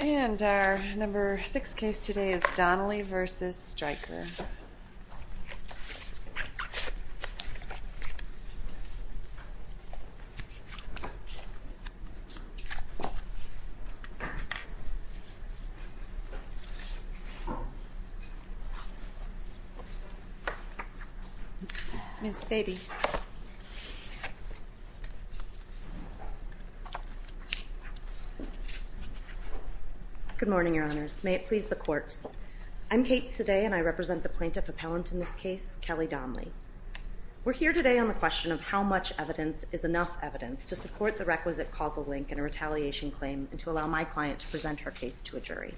And our number 6 case today is Donley v. Stryker. Ms. Sadie. Good morning, Your Honors. May it please the Court. I'm Kate Sadie and I represent the plaintiff appellant in this case, Kelly Donley. We're here today on the question of how much evidence is enough evidence to support the requisite causal link in a retaliation claim and to allow my client to present her case to a jury.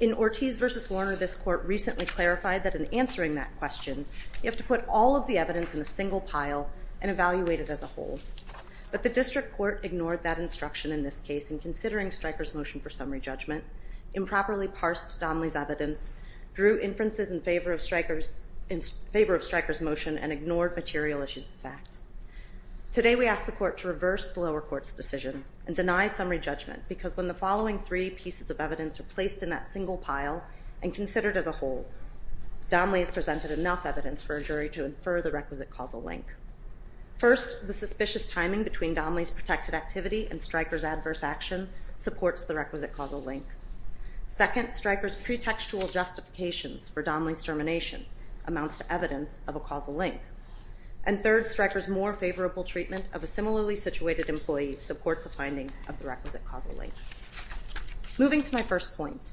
In Ortiz v. Warner, this Court recently clarified that in answering that question, you have to put all of the evidence in a single pile and evaluate it as a whole. But the District Court ignored that instruction in this case in considering Stryker's motion for summary judgment, improperly parsed Donley's evidence, drew inferences in favor of Stryker's motion, and ignored material issues of fact. Today we ask the Court to reverse the lower court's decision and deny summary judgment because when the following three pieces of evidence are placed in that single pile and considered as a whole, Donley has presented enough evidence for a jury to infer the requisite causal link. First, the suspicious timing between Donley's protected activity and Stryker's adverse action supports the requisite causal link. Second, Stryker's pretextual justifications for Donley's termination amounts to evidence of a causal link. And third, Stryker's more favorable treatment of a similarly situated employee supports a finding of the requisite causal link. Moving to my first point,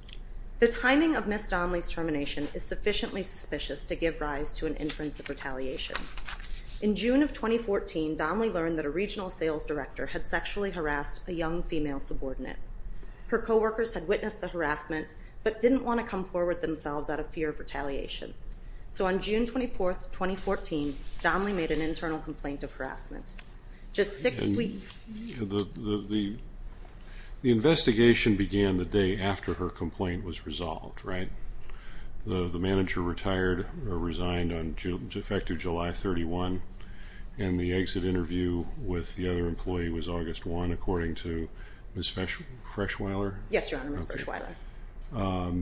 the timing of Ms. Donley's termination is sufficiently suspicious to give rise to an inference of retaliation. In June of 2014, Donley learned that a regional sales director had sexually harassed a young female subordinate. Her coworkers had witnessed the harassment but didn't want to come forward themselves out of fear of retaliation. So on June 24, 2014, Donley made an internal complaint of harassment. Just six weeks... The investigation began the day after her complaint was resolved, right? The manager retired or resigned on effective July 31, and the exit interview with the other employee was August 1, according to Ms. Freshweiler? Yes, Your Honor, Ms. Freshweiler.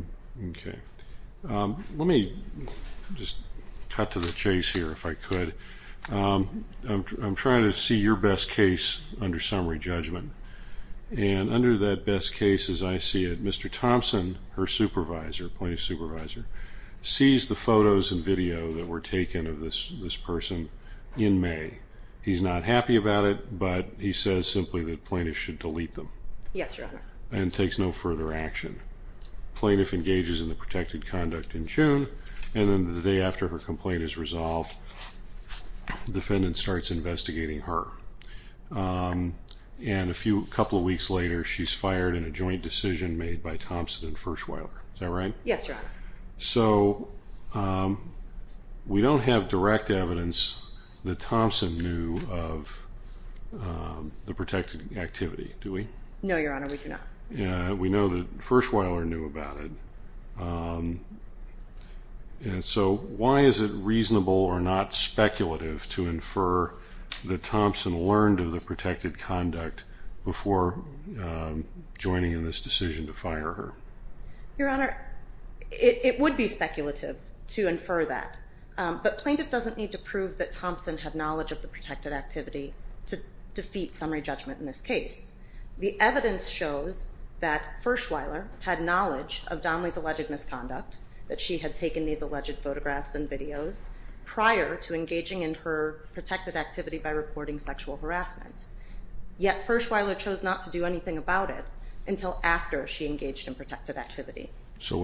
Okay. Let me just cut to the chase here, if I could. I'm trying to see your best case under summary judgment. And under that best case, as I see it, Mr. Thompson, her supervisor, plaintiff's supervisor, sees the photos and video that were taken of this person in May. He's not happy about it, but he says simply that plaintiffs should delete them. Yes, Your Honor. And takes no further action. The plaintiff engages in the protected conduct in June, and then the day after her complaint is resolved, the defendant starts investigating her. And a couple of weeks later, she's fired in a joint decision made by Thompson and Freshweiler. Is that right? Yes, Your Honor. So we don't have direct evidence that Thompson knew of the protected activity, do we? No, Your Honor, we do not. We know that Freshweiler knew about it. And so why is it reasonable or not speculative to infer that Thompson learned of the protected conduct before joining in this decision to fire her? Your Honor, it would be speculative to infer that, but plaintiff doesn't need to prove that Thompson had knowledge of the protected activity to defeat summary judgment in this case. The evidence shows that Freshweiler had knowledge of Donnelly's alleged misconduct, that she had taken these alleged photographs and videos prior to engaging in her protected activity by reporting sexual harassment. Yet Freshweiler chose not to do anything about it until after she engaged in protected activity. So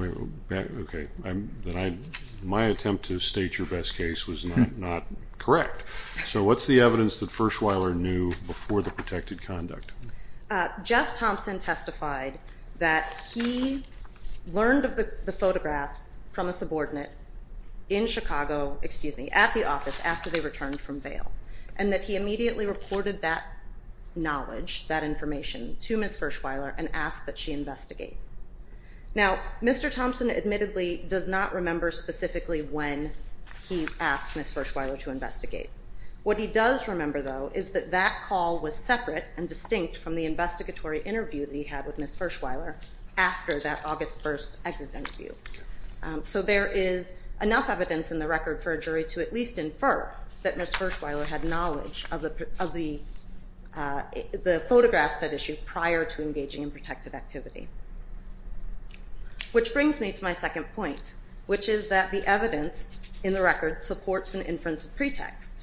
my attempt to state your best case was not correct. So what's the evidence that Freshweiler knew before the protected conduct? Jeff Thompson testified that he learned of the photographs from a subordinate in Chicago, at the office after they returned from bail, and that he immediately reported that knowledge, that information, to Ms. Freshweiler and asked that she investigate. Now, Mr. Thompson admittedly does not remember specifically when he asked Ms. Freshweiler to investigate. What he does remember, though, is that that call was separate and distinct from the investigatory interview that he had with Ms. Freshweiler after that August 1st exit interview. So there is enough evidence in the record for a jury to at least infer that Ms. Freshweiler had knowledge of the photographs at issue prior to engaging in protected activity. Which brings me to my second point, which is that the evidence in the record supports an inference pretext.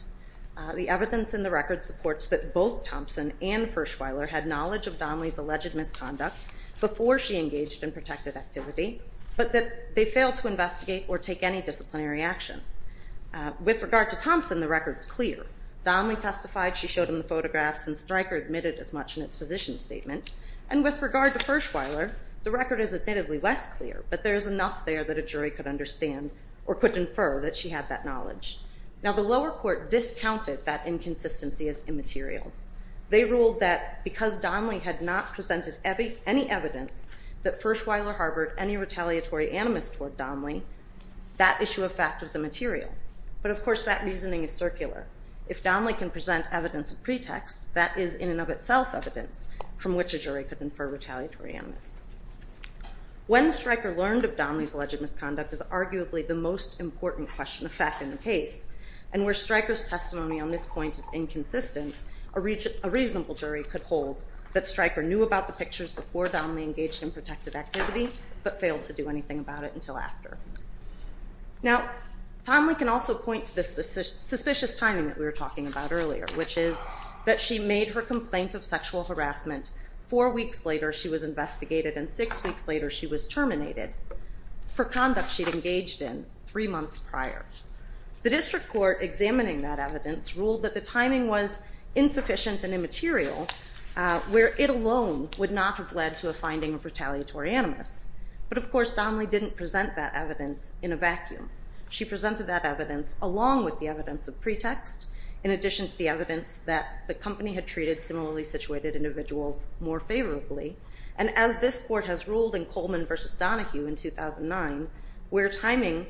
The evidence in the record supports that both Thompson and Freshweiler had knowledge of Donnelly's alleged misconduct before she engaged in protected activity, but that they failed to investigate or take any disciplinary action. Donnelly testified she showed him the photographs, and Stryker admitted as much in its position statement. And with regard to Freshweiler, the record is admittedly less clear, but there is enough there that a jury could understand or could infer that she had that knowledge. Now, the lower court discounted that inconsistency as immaterial. They ruled that because Donnelly had not presented any evidence that Freshweiler harbored any retaliatory animus toward Donnelly, that issue of fact was immaterial. But, of course, that reasoning is circular. If Donnelly can present evidence of pretext, that is in and of itself evidence from which a jury could infer retaliatory animus. When Stryker learned of Donnelly's alleged misconduct is arguably the most important question of fact in the case, and where Stryker's testimony on this point is inconsistent, a reasonable jury could hold that Stryker knew about the pictures before Donnelly engaged in protected activity, but failed to do anything about it until after. Now, Donnelly can also point to the suspicious timing that we were talking about earlier, which is that she made her complaint of sexual harassment four weeks later she was investigated and six weeks later she was terminated for conduct she'd engaged in three months prior. The district court examining that evidence ruled that the timing was insufficient and immaterial, where it alone would not have led to a finding of retaliatory animus. But, of course, Donnelly didn't present that evidence in a vacuum. She presented that evidence along with the evidence of pretext in addition to the evidence that the company had treated similarly situated individuals more favorably. And as this court has ruled in Coleman v. Donahue in 2009, where timing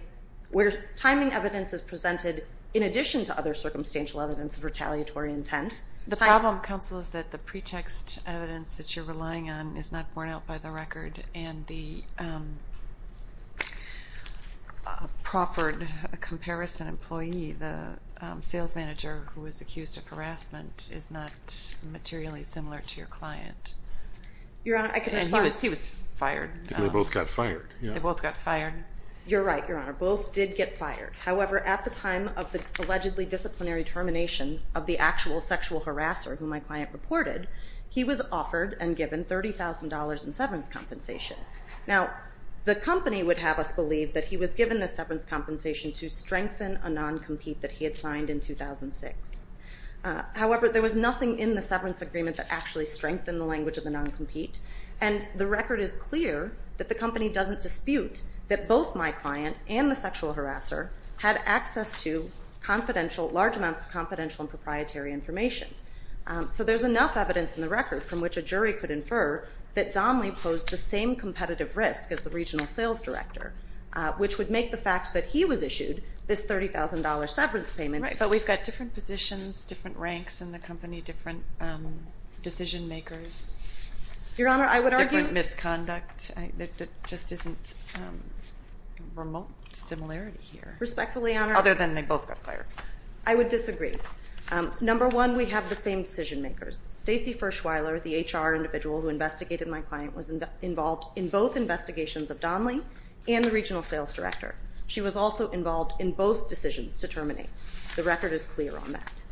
evidence is presented in addition to other circumstantial evidence of retaliatory intent. The problem, counsel, is that the pretext evidence that you're relying on is not borne out by the record and the proffered comparison employee, the sales manager who was accused of harassment, is not materially similar to your client. Your Honor, I can respond. He was fired. They both got fired. They both got fired. You're right, Your Honor. Both did get fired. However, at the time of the allegedly disciplinary termination of the actual sexual harasser who my client reported, he was offered and given $30,000 in severance compensation. Now, the company would have us believe that he was given the severance compensation to strengthen a non-compete that he had signed in 2006. However, there was nothing in the severance agreement that actually strengthened the language of the non-compete. And the record is clear that the company doesn't dispute that both my client and the sexual harasser had access to confidential, large amounts of confidential and proprietary information. So there's enough evidence in the record from which a jury could infer that Domley posed the same competitive risk as the regional sales director, which would make the fact that he was issued this $30,000 severance payment. Right, but we've got different positions, different ranks in the company, different decision makers. Your Honor, I would argue. Different misconduct. There just isn't a remote similarity here. Respectfully, Your Honor. Other than they both got fired. I would disagree. Number one, we have the same decision makers. Stacey Fershweiler, the HR individual who investigated my client, was involved in both investigations of Domley and the regional sales director. She was also involved in both decisions to terminate. The record is clear on that.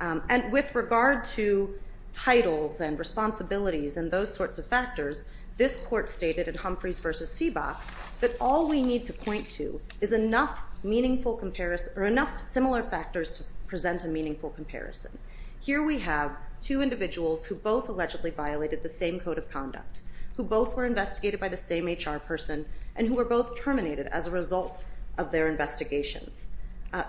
And with regard to titles and responsibilities and those sorts of factors, this court stated in Humphreys v. Seabox that all we need to point to is enough meaningful comparison or enough similar factors to present a meaningful comparison. Here we have two individuals who both allegedly violated the same code of conduct, who both were investigated by the same HR person, and who were both terminated as a result of their investigations.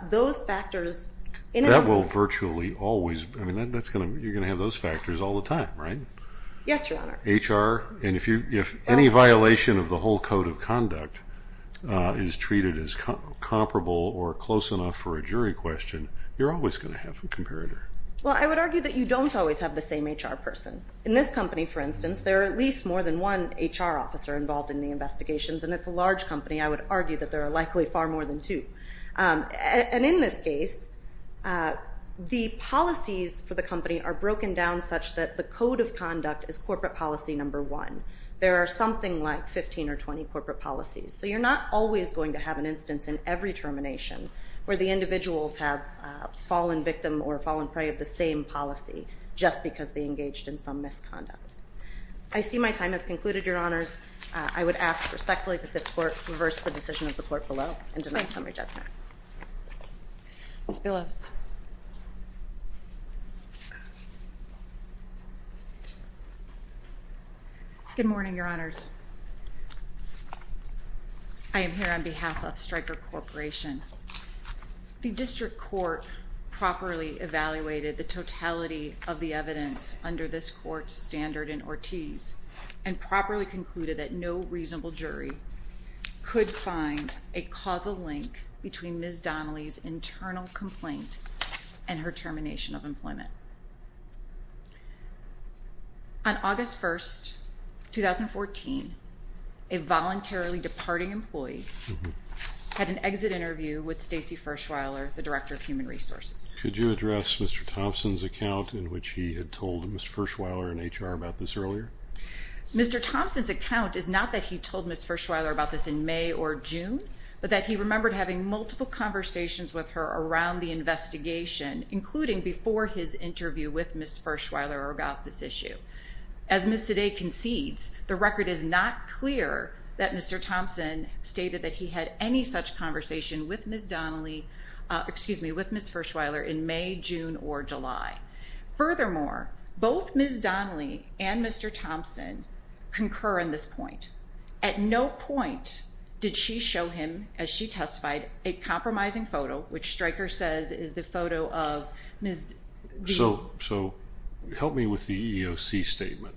Those factors in and of themselves. That will virtually always, I mean, you're going to have those factors all the time, right? Yes, Your Honor. HR, and if any violation of the whole code of conduct is treated as comparable or close enough for a jury question, you're always going to have a comparator. Well, I would argue that you don't always have the same HR person. In this company, for instance, there are at least more than one HR officer involved in the investigations, and it's a large company. I would argue that there are likely far more than two. And in this case, the policies for the company are broken down such that the code of conduct is corporate policy number one. There are something like 15 or 20 corporate policies. So you're not always going to have an instance in every termination where the individuals have fallen victim or fallen prey of the same policy just because they engaged in some misconduct. I see my time has concluded, Your Honors. I would ask respectfully that this Court reverse the decision of the Court below and deny summary judgment. Ms. Billows. Good morning, Your Honors. I am here on behalf of Stryker Corporation. The District Court properly evaluated the totality of the evidence under this Court's standard in Ortiz and properly concluded that no reasonable jury could find a causal link between Ms. Donnelly's internal complaint and her termination of employment. On August 1, 2014, a voluntarily departing employee had an exit interview with Stacy Fershweiler, the Director of Human Resources. Could you address Mr. Thompson's account in which he had told Ms. Fershweiler in HR about this earlier? Mr. Thompson's account is not that he told Ms. Fershweiler about this in May or June, but that he remembered having multiple conversations with her around the investigation, including before his interview with Ms. Fershweiler about this issue. As Ms. Sade concedes, the record is not clear that Mr. Thompson stated that he had any such conversation with Ms. Donnelly with Ms. Fershweiler in May, June, or July. Furthermore, both Ms. Donnelly and Mr. Thompson concur on this point. At no point did she show him, as she testified, a compromising photo, which Stryker says is the photo of Ms. Donnelly. So help me with the EEOC statement.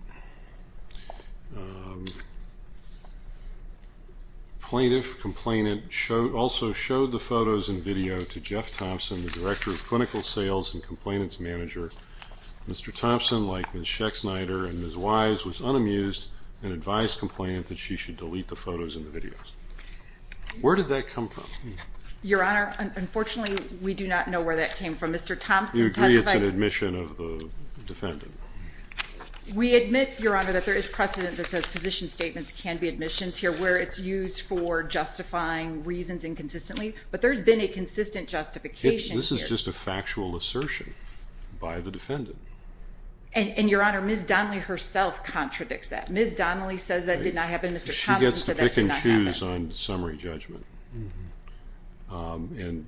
Plaintiff complainant also showed the photos and video to Jeff Thompson, the Director of Clinical Sales and Complainants Manager. Mr. Thompson, like Ms. Schexnayder and Ms. Wise, was unamused and advised complainant that she should delete the photos and the videos. Where did that come from? Your Honor, unfortunately, we do not know where that came from. Mr. Thompson testified. You agree it's an admission of the defendant? We admit, Your Honor, that there is precedent that says position statements can be admissions here, where it's used for justifying reasons inconsistently. But there's been a consistent justification here. This is just a factual assertion by the defendant. And, Your Honor, Ms. Donnelly herself contradicts that. Ms. Donnelly says that did not happen. Mr. Thompson says that did not happen. She gets to pick and choose on summary judgment. And,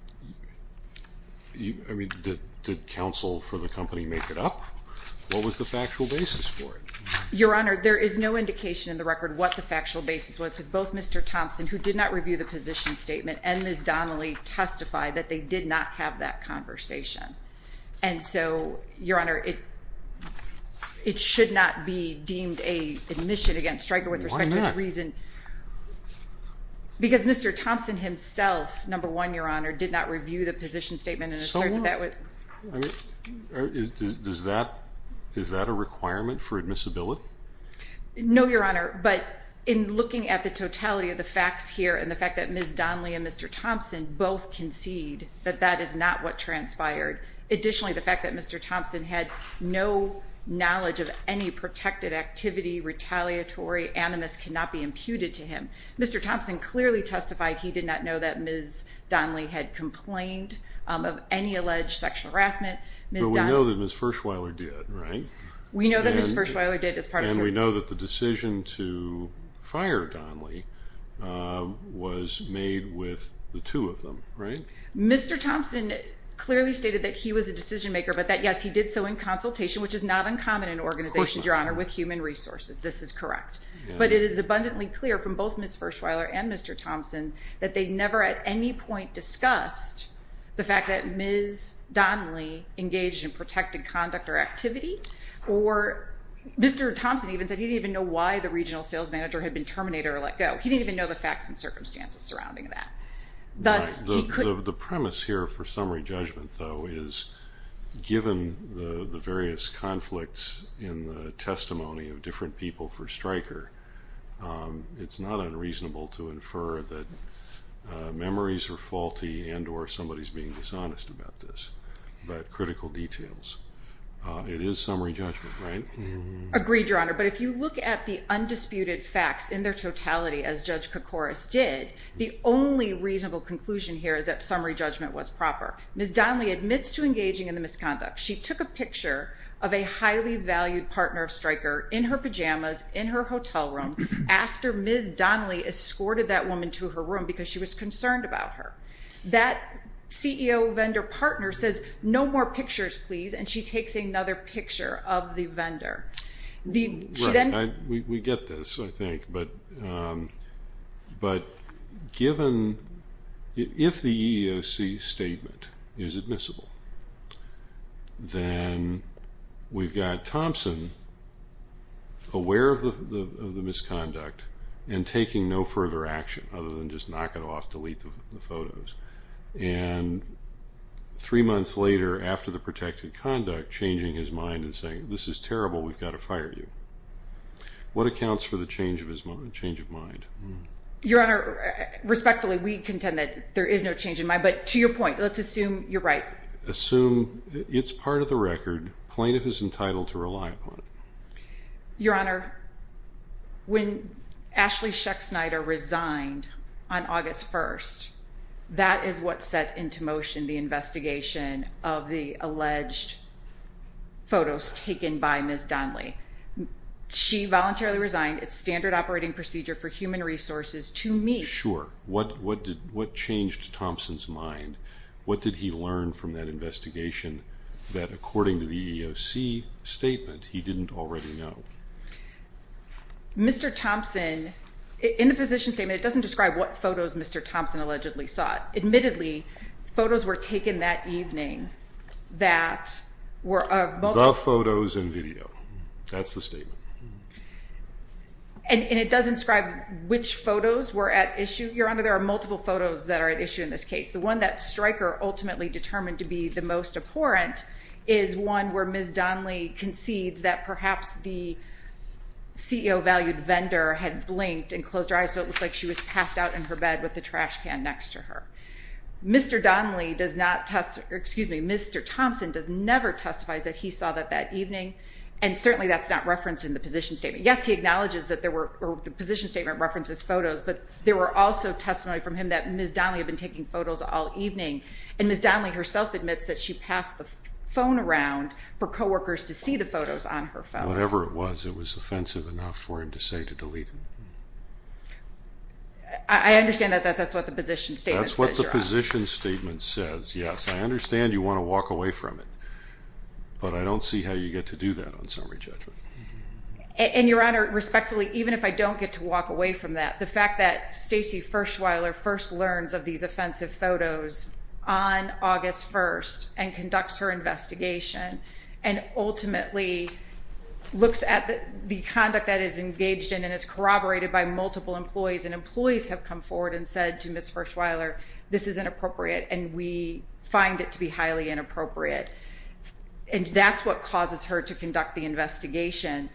I mean, did counsel for the company make it up? What was the factual basis for it? Your Honor, there is no indication in the record what the factual basis was, because both Mr. Thompson, who did not review the position statement, and Ms. Donnelly testified that they did not have that conversation. And so, Your Honor, it should not be deemed an admission against striker with respect to reason. Why not? Because Mr. Thompson himself, number one, Your Honor, did not review the position statement. So what? I mean, is that a requirement for admissibility? No, Your Honor, but in looking at the totality of the facts here and the fact that Ms. Donnelly and Mr. Thompson both concede that that is not what transpired. Additionally, the fact that Mr. Thompson had no knowledge of any protected activity, retaliatory animus cannot be imputed to him. Mr. Thompson clearly testified he did not know that Ms. Donnelly had complained of any alleged sexual harassment. But we know that Ms. Fershweiler did, right? We know that Ms. Fershweiler did as part of her— And we know that the decision to fire Donnelly was made with the two of them, right? Mr. Thompson clearly stated that he was a decision maker, but that, yes, he did so in consultation, which is not uncommon in organizations, Your Honor, with human resources. This is correct. But it is abundantly clear from both Ms. Fershweiler and Mr. Thompson that they never at any point discussed the fact that Ms. Donnelly engaged in protected conduct or activity. Or Mr. Thompson even said he didn't even know why the regional sales manager had been terminated or let go. He didn't even know the facts and circumstances surrounding that. The premise here for summary judgment, though, is given the various conflicts in the testimony of different people for Stryker, it's not unreasonable to infer that memories are faulty and or somebody is being dishonest about this. But critical details. It is summary judgment, right? Agreed, Your Honor. But if you look at the undisputed facts in their totality, as Judge Koukouris did, the only reasonable conclusion here is that summary judgment was proper. Ms. Donnelly admits to engaging in the misconduct. She took a picture of a highly valued partner of Stryker in her pajamas in her hotel room after Ms. Donnelly escorted that woman to her room because she was concerned about her. That CEO vendor partner says, no more pictures, please. And she takes another picture of the vendor. We get this, I think. But if the EEOC statement is admissible, then we've got Thompson aware of the misconduct and taking no further action other than just knock it off, delete the photos. And three months later, after the protected conduct, changing his mind and saying, this is terrible, we've got to fire you. What accounts for the change of mind? Your Honor, respectfully, we contend that there is no change in mind. But to your point, let's assume you're right. Assume it's part of the record. Plaintiff is entitled to rely upon it. Your Honor, when Ashley Schechtsnyder resigned on August 1st, that is what set into motion the investigation of the alleged photos taken by Ms. Donnelly. She voluntarily resigned. It's standard operating procedure for human resources to me. Sure. What changed Thompson's mind? What did he learn from that investigation that, according to the EEOC statement, he didn't already know? Mr. Thompson, in the position statement, it doesn't describe what photos Mr. Thompson allegedly sought. Admittedly, photos were taken that evening that were of both. The photos and video. That's the statement. And it does inscribe which photos were at issue. Your Honor, there are multiple photos that are at issue in this case. The one that Stryker ultimately determined to be the most abhorrent is one where Ms. Donnelly concedes that perhaps the CEO-valued vendor had blinked and closed her eyes so it looked like she was passed out in her bed with the trash can next to her. Mr. Thompson does never testify that he saw that that evening, and certainly that's not referenced in the position statement. Yes, he acknowledges that the position statement references photos, but there were also testimony from him that Ms. Donnelly had been taking photos all evening, and Ms. Donnelly herself admits that she passed the phone around for coworkers to see the photos on her phone. Whatever it was, it was offensive enough for him to say to delete them. I understand that that's what the position statement says, Your Honor. That's what the position statement says, yes. I understand you want to walk away from it, but I don't see how you get to do that on summary judgment. And, Your Honor, respectfully, even if I don't get to walk away from that, the fact that Stacey Fershweiler first learns of these offensive photos on August 1st and conducts her investigation and ultimately looks at the conduct that is engaged in and is corroborated by multiple employees, and employees have come forward and said to Ms. Fershweiler, this is inappropriate, and we find it to be highly inappropriate. And that's what causes her to conduct the investigation.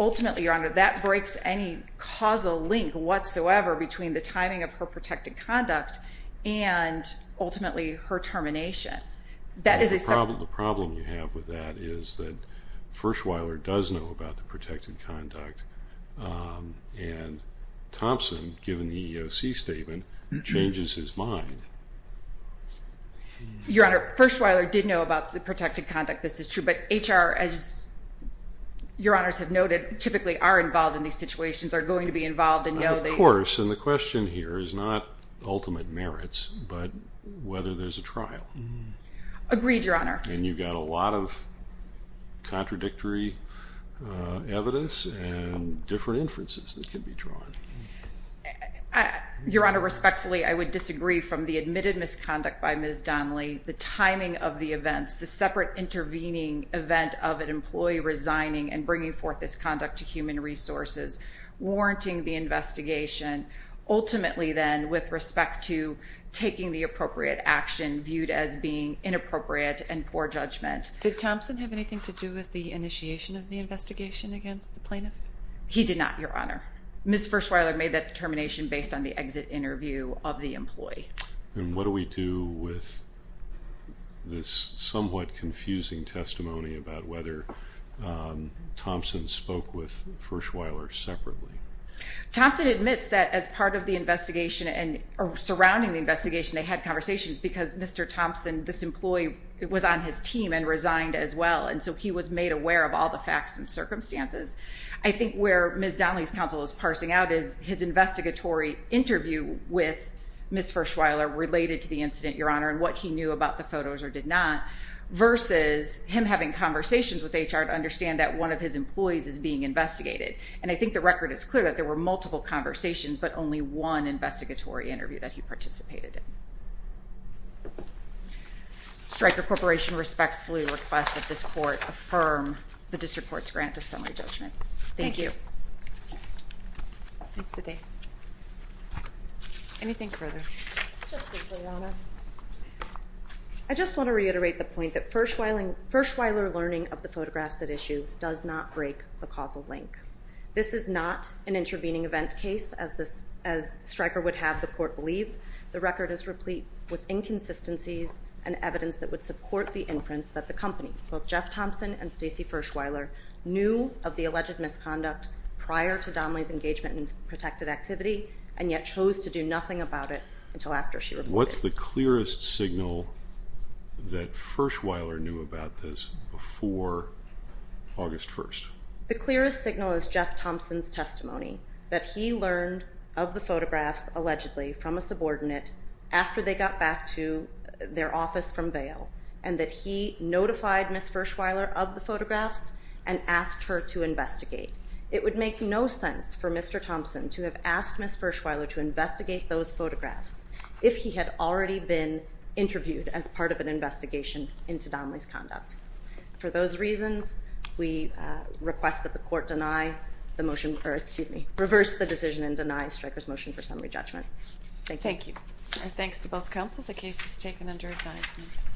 Ultimately, Your Honor, that breaks any causal link whatsoever between the timing of her protected conduct and ultimately her termination. The problem you have with that is that Fershweiler does know about the protected conduct, and Thompson, given the EEOC statement, changes his mind. Your Honor, Fershweiler did know about the protected conduct, this is true, but HR, as Your Honors have noted, typically are involved in these situations, are going to be involved and know that... Of course, and the question here is not ultimate merits, but whether there's a trial. Agreed, Your Honor. And you've got a lot of contradictory evidence and different inferences that can be drawn. Your Honor, respectfully, I would disagree from the admitted misconduct by Ms. Donnelly, the timing of the events, the separate intervening event of an employee resigning and bringing forth this conduct to human resources, warranting the investigation, ultimately then with respect to taking the appropriate action viewed as being inappropriate and poor judgment. Did Thompson have anything to do with the initiation of the investigation against the plaintiff? He did not, Your Honor. Ms. Fershweiler made that determination based on the exit interview of the employee. And what do we do with this somewhat confusing testimony about whether Thompson spoke with Fershweiler separately? Thompson admits that as part of the investigation and surrounding the investigation, they had conversations because Mr. Thompson, this employee, was on his team and resigned as well, and so he was made aware of all the facts and circumstances. I think where Ms. Donnelly's counsel is parsing out is his investigatory interview with Ms. Fershweiler related to the incident, Your Honor, and what he knew about the photos or did not, versus him having conversations with HR to understand that one of his employees is being investigated. And I think the record is clear that there were multiple conversations, but only one investigatory interview that he participated in. Stryker Corporation respectfully requests that this court affirm the district court's grant of summary judgment. Thank you. Thank you. Anything further? Just briefly, Your Honor. I just want to reiterate the point that Fershweiler learning of the photographs at issue does not break the causal link. This is not an intervening event case, as Stryker would have the court believe. The record is replete with inconsistencies and evidence that would support the inference that the company, both Jeff Thompson and Stacey Fershweiler, knew of the alleged misconduct prior to Donnelly's engagement in protected activity and yet chose to do nothing about it until after she reported it. What's the clearest signal that Fershweiler knew about this before August 1st? The clearest signal is Jeff Thompson's testimony, that he learned of the photographs allegedly from a subordinate after they got back to their office from bail and that he notified Ms. Fershweiler of the photographs and asked her to investigate. It would make no sense for Mr. Thompson to have asked Ms. Fershweiler to investigate those photographs if he had already been interviewed as part of an investigation into Donnelly's conduct. For those reasons, we request that the court reverse the decision and deny Stryker's motion for summary judgment. Thank you. Thanks to both counsel. The case is taken under advisement.